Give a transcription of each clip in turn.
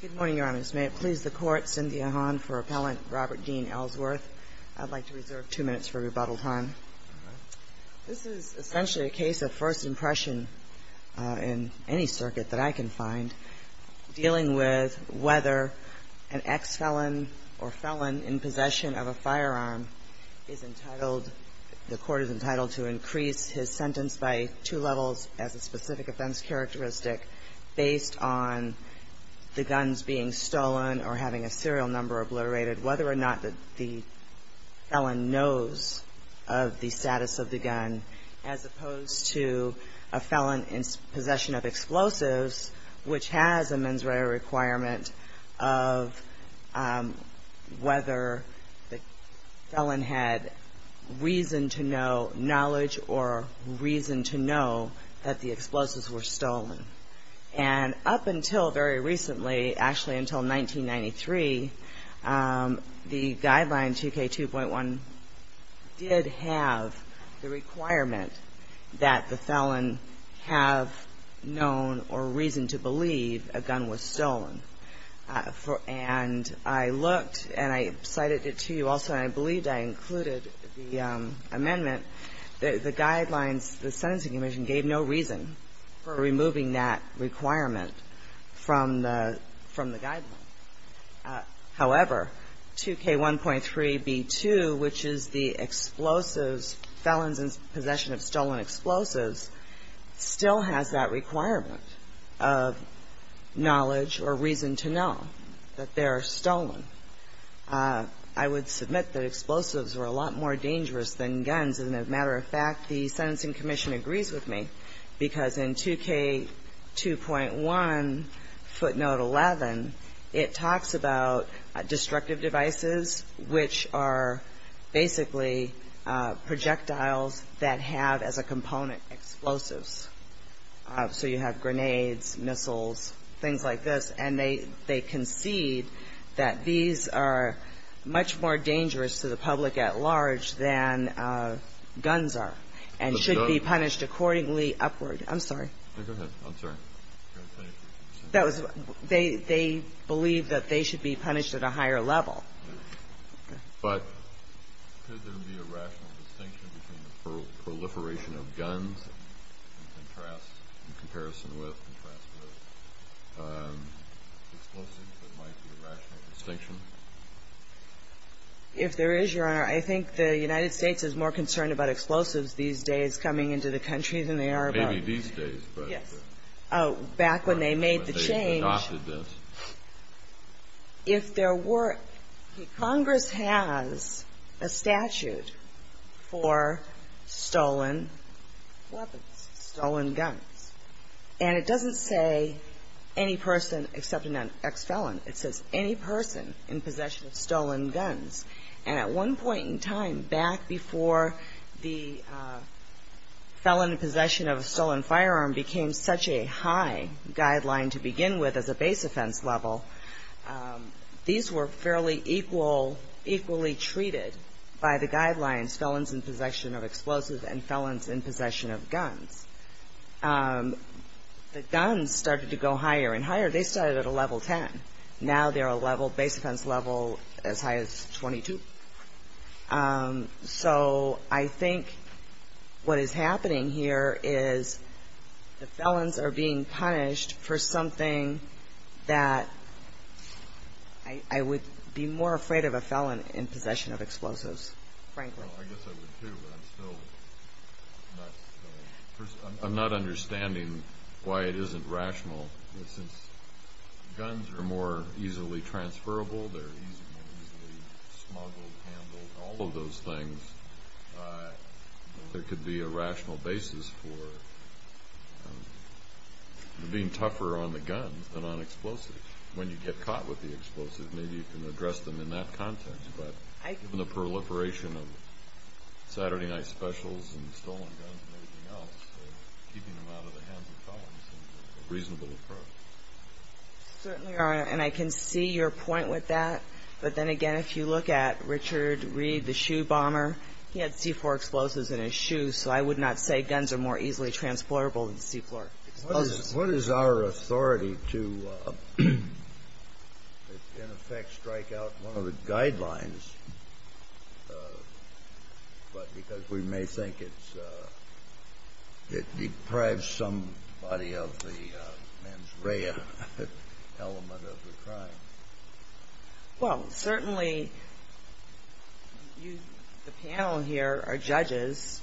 Good morning, Your Honors. May it please the Court, Cynthia Hahn for Appellant Robert Dean Ellsworth. I'd like to reserve two minutes for rebuttal time. This is essentially a case of first impression in any circuit that I can find, dealing with whether an ex-felon or felon in possession of a firearm is entitled to increase his sentence by two levels as a specific offense characteristic, based on the guns being stolen or having a serial number obliterated, whether or not the felon knows of the status of the gun, as opposed to a felon in possession of explosives, which has a mens rea requirement of whether the felon has reason to know knowledge or reason to know that the explosives were stolen. And up until very recently, actually until 1993, the guideline 2K2.1 did have the requirement that the felon have known or reason to believe a gun was stolen. And I looked and I cited it to you also, and I believe I included the amendment, that the guidelines, the Sentencing Commission gave no reason for removing that requirement from the guideline. However, 2K1.3b2, which is the explosives, felons in possession of stolen explosives, still has that requirement of knowledge or reason to know that they are stolen. I would submit that explosives are a lot more dangerous than guns. And as a matter of fact, the Sentencing Commission agrees with me, because in 2K2.1 footnote 11, it talks about destructive devices, which are basically projectiles that have as a component explosives. So you have grenades, missiles, things like this. And they concede that these are much more dangerous to the public at large than guns are and should be punished accordingly upward. I'm sorry. Go ahead. I'm sorry. They believe that they should be punished at a higher level. But could there be a rational distinction between the proliferation of guns in comparison with explosives that might be a rational distinction? If there is, Your Honor, I think the United States is more concerned about explosives these days coming into the country than they are about – Maybe these days, but – Yes. Back when they made the change. When they adopted this. If there were – Congress has a statute for stolen weapons, stolen guns. And it doesn't say any person except an ex-felon. It says any person in possession of stolen guns. And at one point in time, back before the felon in possession of a stolen firearm became such a high guideline to begin with as a base offense level, these were fairly equally treated by the guidelines, felons in possession of explosives and felons in possession of guns. The guns started to go higher and higher. They started at a level 10. Now they're a level – base offense level as high as 22. So I think what is happening here is the felons are being punished for something that I would be more afraid of a felon in possession of explosives, frankly. I guess I would too, but I'm still not – I'm not understanding why it isn't rational. Since guns are more easily transferable, they're more easily smuggled, handled, all of those things. There could be a rational basis for being tougher on the guns than on explosives. When you get caught with the explosives, maybe you can address them in that context. But given the proliferation of Saturday night specials and stolen guns and everything else, keeping them out of the hands of felons seems a reasonable approach. Certainly, Your Honor. And I can see your point with that. But then again, if you look at Richard Reed, the shoe bomber, he had C-4 explosives in his shoes. So I would not say guns are more easily transportable than C-4 explosives. What is our authority to, in effect, strike out one of the guidelines? Because we may think it deprives somebody of the mens rea element of the crime. Well, certainly, the panel here are judges.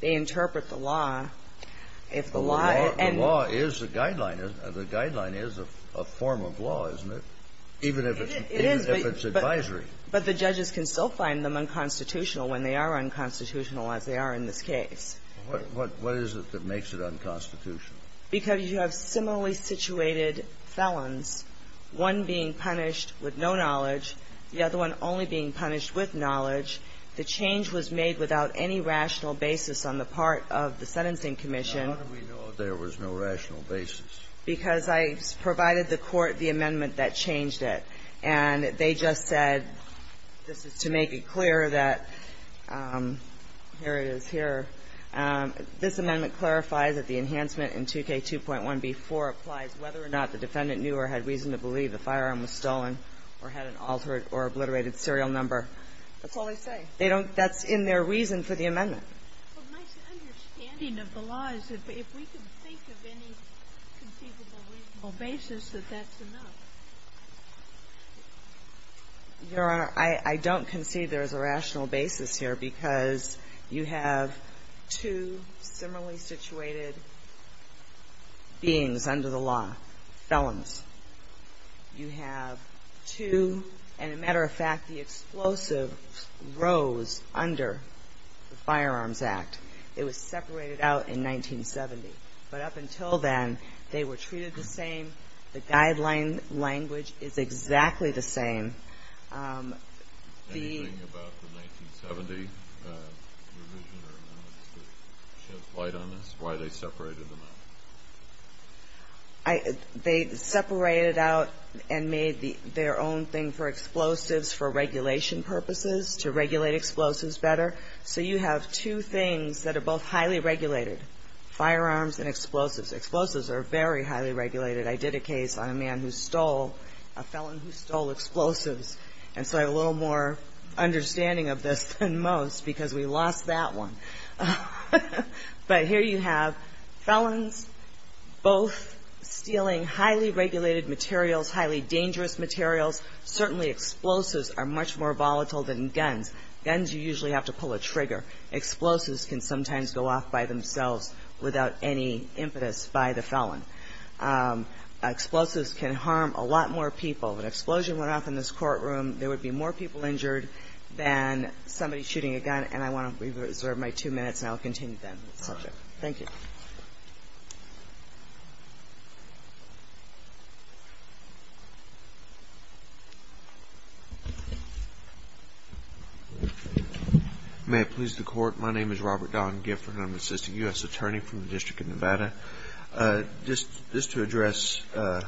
They interpret the law. The law is a guideline, isn't it? The guideline is a form of law, isn't it? It is. Even if it's advisory. But the judges can still find them unconstitutional when they are unconstitutional, as they are in this case. What is it that makes it unconstitutional? Because you have similarly situated felons, one being punished with no knowledge, the other one only being punished with knowledge. The change was made without any rational basis on the part of the Sentencing Commission. How do we know there was no rational basis? Because I provided the Court the amendment that changed it. And they just said, this is to make it clear that, here it is here, this amendment clarifies that the enhancement in 2K2.1b4 applies whether or not the defendant knew or had reason to believe the firearm was stolen or had an altered or obliterated serial number. That's all they say. They don't. That's in their reason for the amendment. But my understanding of the law is that if we can think of any conceivable reasonable basis, that that's enough. Your Honor, I don't concede there is a rational basis here because you have two similarly situated beings under the law, felons. You have two, and a matter of fact, the explosives rose under the Firearms Act. It was separated out in 1970. But up until then, they were treated the same. The guideline language is exactly the same. Anything about the 1970 revision or amendments that shed light on this, why they separated them out? They separated out and made their own thing for explosives for regulation purposes, to regulate explosives better. So you have two things that are both highly regulated, firearms and explosives. Explosives are very highly regulated. I did a case on a man who stole, a felon who stole explosives. And so I have a little more understanding of this than most because we lost that one. But here you have felons both stealing highly regulated materials, highly dangerous materials. Certainly, explosives are much more volatile than guns. Guns, you usually have to pull a trigger. Explosives can sometimes go off by themselves without any impetus by the felon. Explosives can harm a lot more people. If an explosion went off in this courtroom, there would be more people injured than somebody shooting a gun. And I want to reserve my two minutes, and I'll continue then. Thank you. May it please the Court. My name is Robert Don Gifford, and I'm an assistant U.S. attorney from the District of Nevada. Just to address the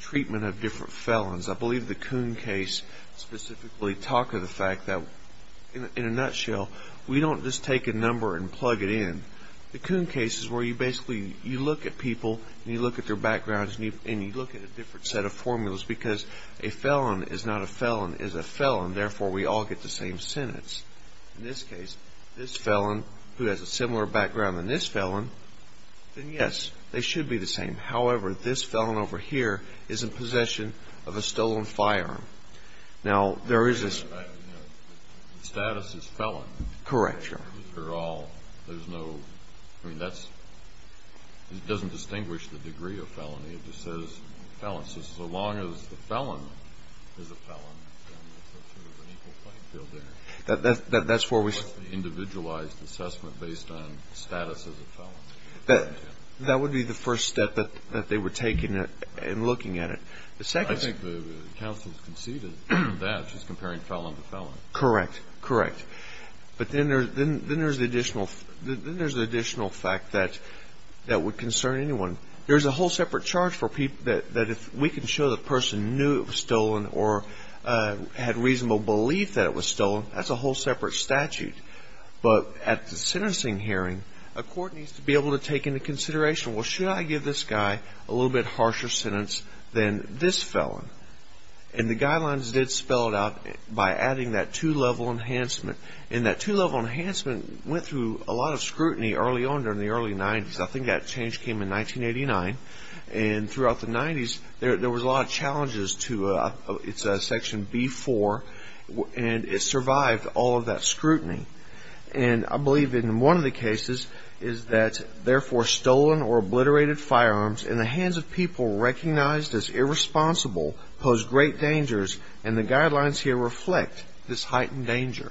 treatment of different felons, I believe the Coon case specifically talked of the fact that, in a nutshell, we don't just take a number and plug it in. The Coon case is where you basically look at people, and you look at their backgrounds, and you look at a different set of formulas because a felon is not a felon, is a felon. Therefore, we all get the same sentence. In this case, this felon, who has a similar background than this felon, then, yes, they should be the same. However, this felon over here is in possession of a stolen firearm. Now, there is this – The status is felon. Correct. They're all – there's no – I mean, that's – it doesn't distinguish the degree of felony. It just says felon. So as long as the felon is a felon, then there's sort of an equal playing field there. That's where we – Individualized assessment based on status as a felon. That would be the first step that they were taking and looking at it. The second – I think the counsel has conceded that, just comparing felon to felon. Correct. Correct. But then there's the additional fact that would concern anyone. There's a whole separate charge for people that if we can show the person knew it was stolen, that's a whole separate statute. But at the sentencing hearing, a court needs to be able to take into consideration, well, should I give this guy a little bit harsher sentence than this felon? And the guidelines did spell it out by adding that two-level enhancement. And that two-level enhancement went through a lot of scrutiny early on during the early 90s. I think that change came in 1989. And throughout the 90s, there was a lot of challenges to – it's section B4. And it survived all of that scrutiny. And I believe in one of the cases is that, therefore, stolen or obliterated firearms in the hands of people recognized as irresponsible pose great dangers. And the guidelines here reflect this heightened danger.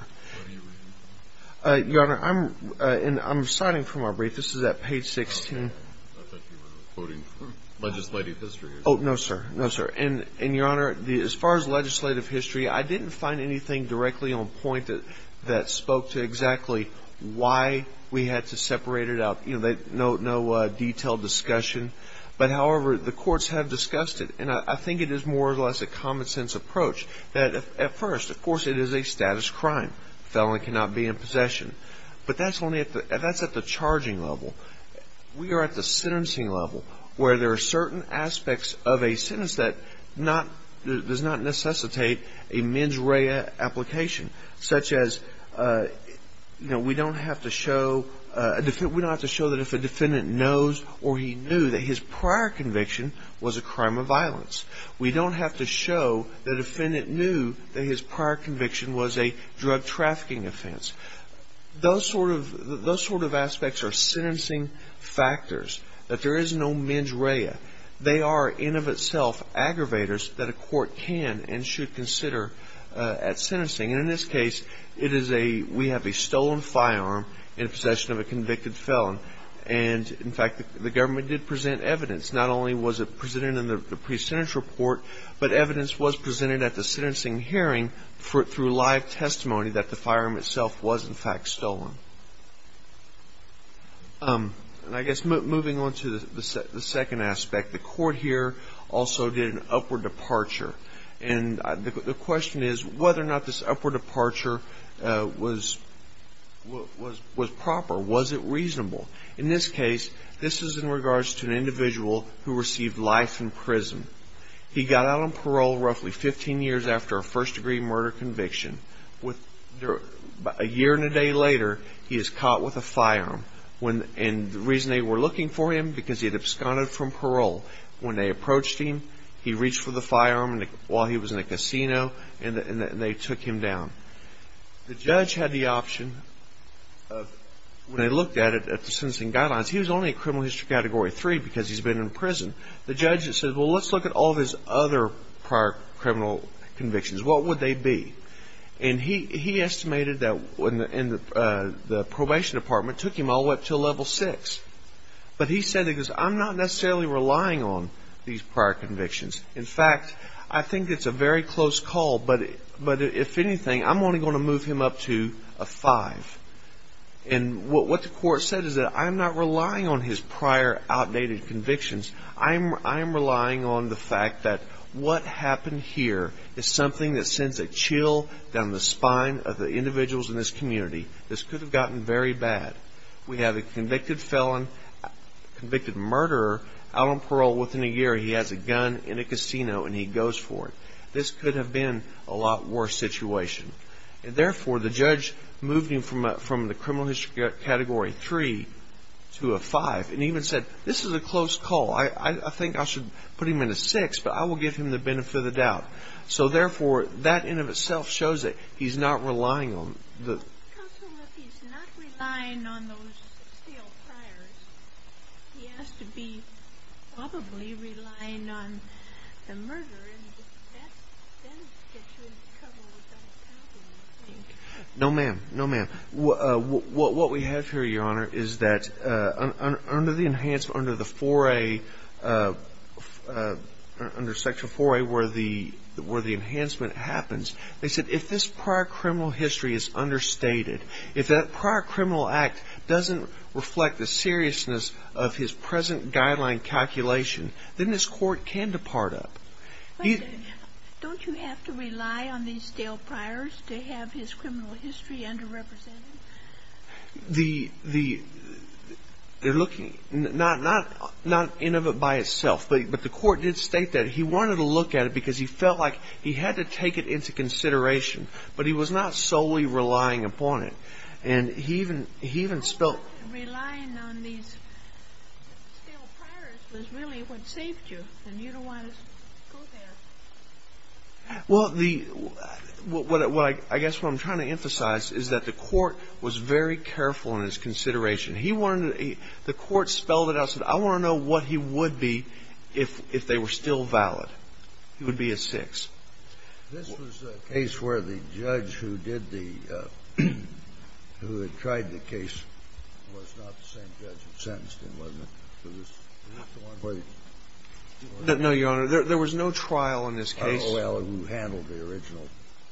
What do you mean? Your Honor, I'm citing from our brief. This is at page 16. I thought you were quoting legislative history. Oh, no, sir. No, sir. And, Your Honor, as far as legislative history, I didn't find anything directly on point that spoke to exactly why we had to separate it out. No detailed discussion. But, however, the courts have discussed it. And I think it is more or less a common-sense approach that, at first, of course it is a status crime. Felon cannot be in possession. But that's only at the – that's at the charging level. We are at the sentencing level where there are certain aspects of a sentence that not – does not necessitate a mens rea application, such as, you know, we don't have to show – we don't have to show that if a defendant knows or he knew that his prior conviction was a crime of violence. We don't have to show the defendant knew that his prior conviction was a drug trafficking offense. Those sort of – those sort of aspects are sentencing factors, that there is no mens rea. They are, in of itself, aggravators that a court can and should consider at sentencing. And in this case, it is a – we have a stolen firearm in possession of a convicted felon. And, in fact, the government did present evidence. Not only was it presented in the pre-sentence report, but evidence was presented at the sentencing hearing through live testimony that the firearm itself was, in fact, stolen. And I guess moving on to the second aspect, the court here also did an upward departure. And the question is whether or not this upward departure was proper. Was it reasonable? In this case, this is in regards to an individual who received life in prison. He got out on parole roughly 15 years after a first-degree murder conviction. A year and a day later, he is caught with a firearm. And the reason they were looking for him, because he had absconded from parole. When they approached him, he reached for the firearm while he was in a casino, and they took him down. The judge had the option of – when they looked at it at the sentencing guidelines, he was only in criminal history category three because he's been in prison. The judge said, well, let's look at all of his other prior criminal convictions. What would they be? And he estimated that the probation department took him all the way up to level six. But he said, I'm not necessarily relying on these prior convictions. In fact, I think it's a very close call. But if anything, I'm only going to move him up to a five. And what the court said is that I'm not relying on his prior outdated convictions. I am relying on the fact that what happened here is something that sends a chill down the spine of the individuals in this community. This could have gotten very bad. We have a convicted felon, convicted murderer, out on parole within a year. He has a gun in a casino, and he goes for it. This could have been a lot worse situation. And therefore, the judge moved him from the criminal history category three to a five and even said, this is a close call. I think I should put him in a six, but I will give him the benefit of the doubt. So, therefore, that in and of itself shows that he's not relying on the... Counsel, if he's not relying on those stale priors, he has to be probably relying on the murder. And that then gets you in trouble with that county, I think. No, ma'am. No, ma'am. What we have here, Your Honor, is that under the enhancement, under the 4A, under section 4A where the enhancement happens, they said, if this prior criminal history is understated, if that prior criminal act doesn't reflect the seriousness of his present guideline calculation, then this court can depart up. Don't you have to rely on these stale priors to have his criminal history underrepresented? The... They're looking... Not in of it by itself, but the court did state that he wanted to look at it because he felt like he had to take it into consideration, but he was not solely relying upon it. And he even spelt... It was really what saved you, and you don't want to go there. Well, the... I guess what I'm trying to emphasize is that the court was very careful in his consideration. He wanted... The court spelled it out and said, I want to know what he would be if they were still valid. He would be a 6. This was a case where the judge who did the... who had tried the case was not the same judge who sentenced him, wasn't it? No, Your Honor. There was no trial in this case. Well, who handled the original...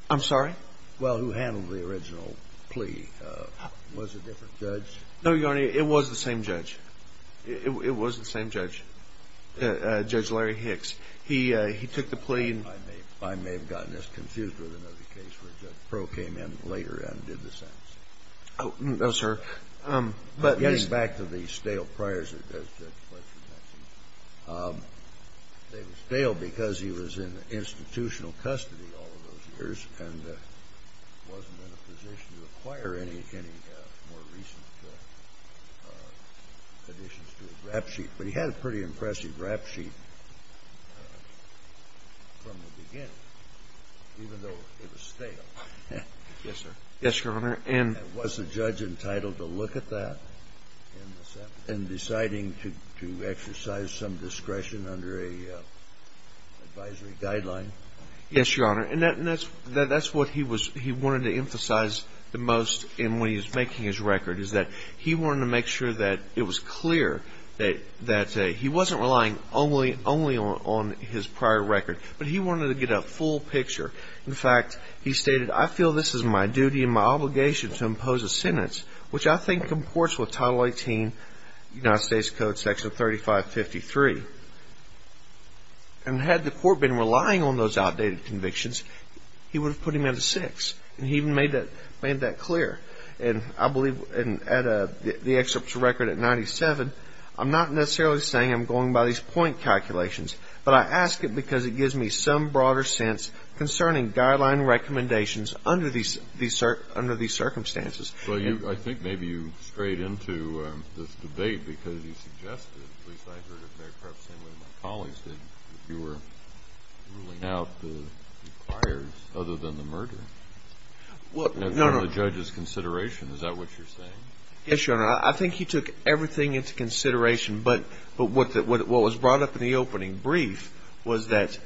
I'm sorry? Well, who handled the original plea was a different judge. No, Your Honor. It was the same judge. It was the same judge, Judge Larry Hicks. He took the plea and... I may have gotten us confused with another case where Judge Pro came in later and did the same thing. No, sir. Getting back to the stale priors that Judge Fletcher had seen, they were stale because he was in institutional custody all of those years and wasn't in a position to acquire any more recent additions to his rap sheet. But he had a pretty impressive rap sheet from the beginning, even though it was stale. Yes, sir. Yes, Your Honor. And was the judge entitled to look at that in deciding to exercise some discretion under an advisory guideline? Yes, Your Honor. And that's what he wanted to emphasize the most in when he was making his record is that he wanted to make sure that it was clear that he wasn't relying only on his prior record, but he wanted to get a full picture. In fact, he stated, I feel this is my duty and my obligation to impose a sentence, which I think comports with Title 18, United States Code, Section 3553. And had the court been relying on those outdated convictions, he would have put him at a six. And he even made that clear. And I believe at the excerpt to record at 97, I'm not necessarily saying I'm going by these point calculations, but I ask it because it gives me some broader sense concerning guideline recommendations under these circumstances. So I think maybe you strayed into this debate because you suggested, at least I heard it, Mayor Krupp, same way my colleagues did, that you were ruling out the requires other than the murder. No, no. That's in the judge's consideration. Is that what you're saying? Yes, Your Honor. I think he took everything into consideration. But what was brought up in the opening brief was that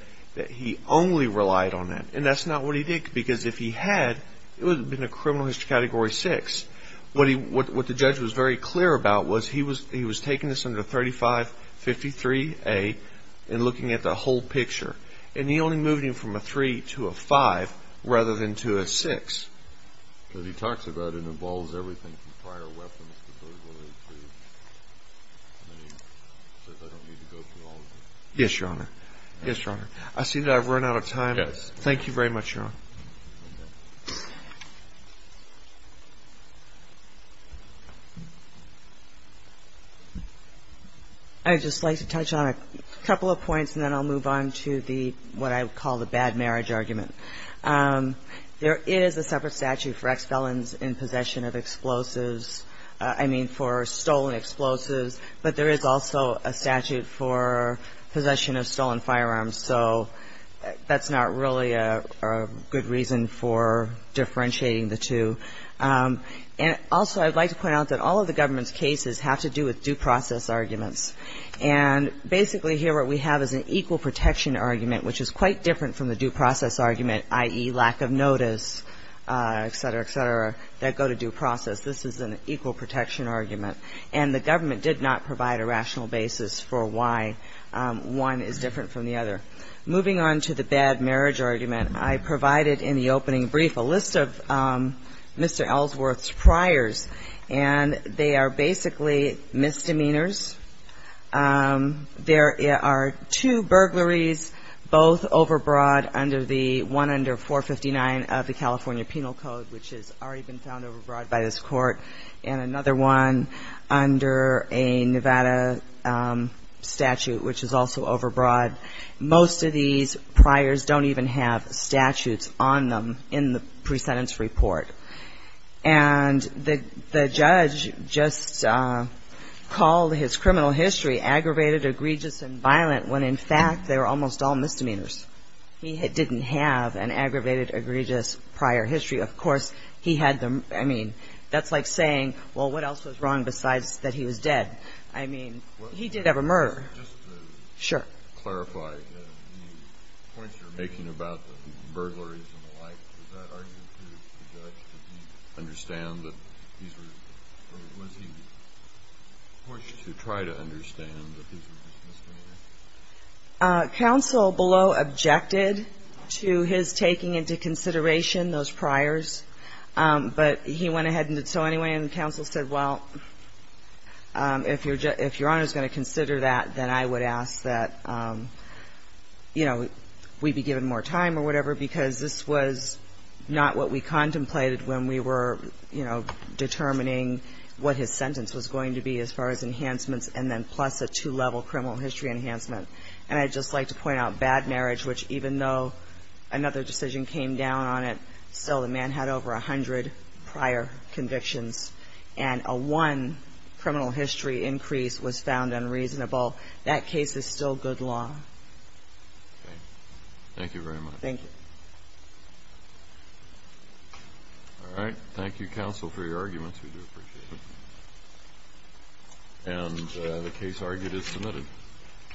he only relied on that. And that's not what he did because if he had, it would have been a criminal history Category 6. What the judge was very clear about was he was taking this under 3553A and looking at the whole picture. And he only moved him from a three to a five rather than to a six. Because he talks about it involves everything from prior weapons to those related to and then he says I don't need to go through all of it. Yes, Your Honor. Yes, Your Honor. I see that I've run out of time. Yes. Thank you very much, Your Honor. Okay. I would just like to touch on a couple of points and then I'll move on to what I would call the bad marriage argument. There is a separate statute for ex-felons in possession of explosives, I mean for stolen explosives, but there is also a statute for possession of stolen firearms. So that's not really a good reason for differentiating the two. And also I'd like to point out that all of the government's cases have to do with due process arguments. And basically here what we have is an equal protection argument, which is quite different from the due process argument, i.e., lack of notice, et cetera, et cetera, that go to due process. This is an equal protection argument. And the government did not provide a rational basis for why one is different from the other. Moving on to the bad marriage argument, I provided in the opening brief a list of Mr. Ellsworth's priors, and they are basically misdemeanors. There are two burglaries, both overbroad under the one under 459 of the California Penal Code, which has already been found overbroad by this court, and another one under a Nevada statute, which is also overbroad. Most of these priors don't even have statutes on them in the pre-sentence report. And the judge just called his criminal history aggravated, egregious, and violent, when in fact they were almost all misdemeanors. He didn't have an aggravated, egregious prior history. Of course, he had the, I mean, that's like saying, well, what else was wrong besides that he was dead? I mean, he did have a murder. He didn't have any misdemeanor. I don't think he was trying to understand that these were misdemeanors. Counsel below objected to his taking into consideration those priors, but he went ahead and did so anyway. And counsel said, well, if your Honor is going to consider that, then I would ask that, you know, we be given more time or whatever, because this was not what we contemplated when we were, you know, determining what his sentence was going to be as far as enhancements and then plus a two-level criminal history enhancement. And I'd just like to point out bad marriage, which even though another decision came down on it, still the man had over 100 prior convictions, and a one criminal history increase was found unreasonable. That case is still good law. Okay. Thank you very much. Thank you. All right. Thank you, counsel, for your arguments. We do appreciate it. And the case argued is submitted.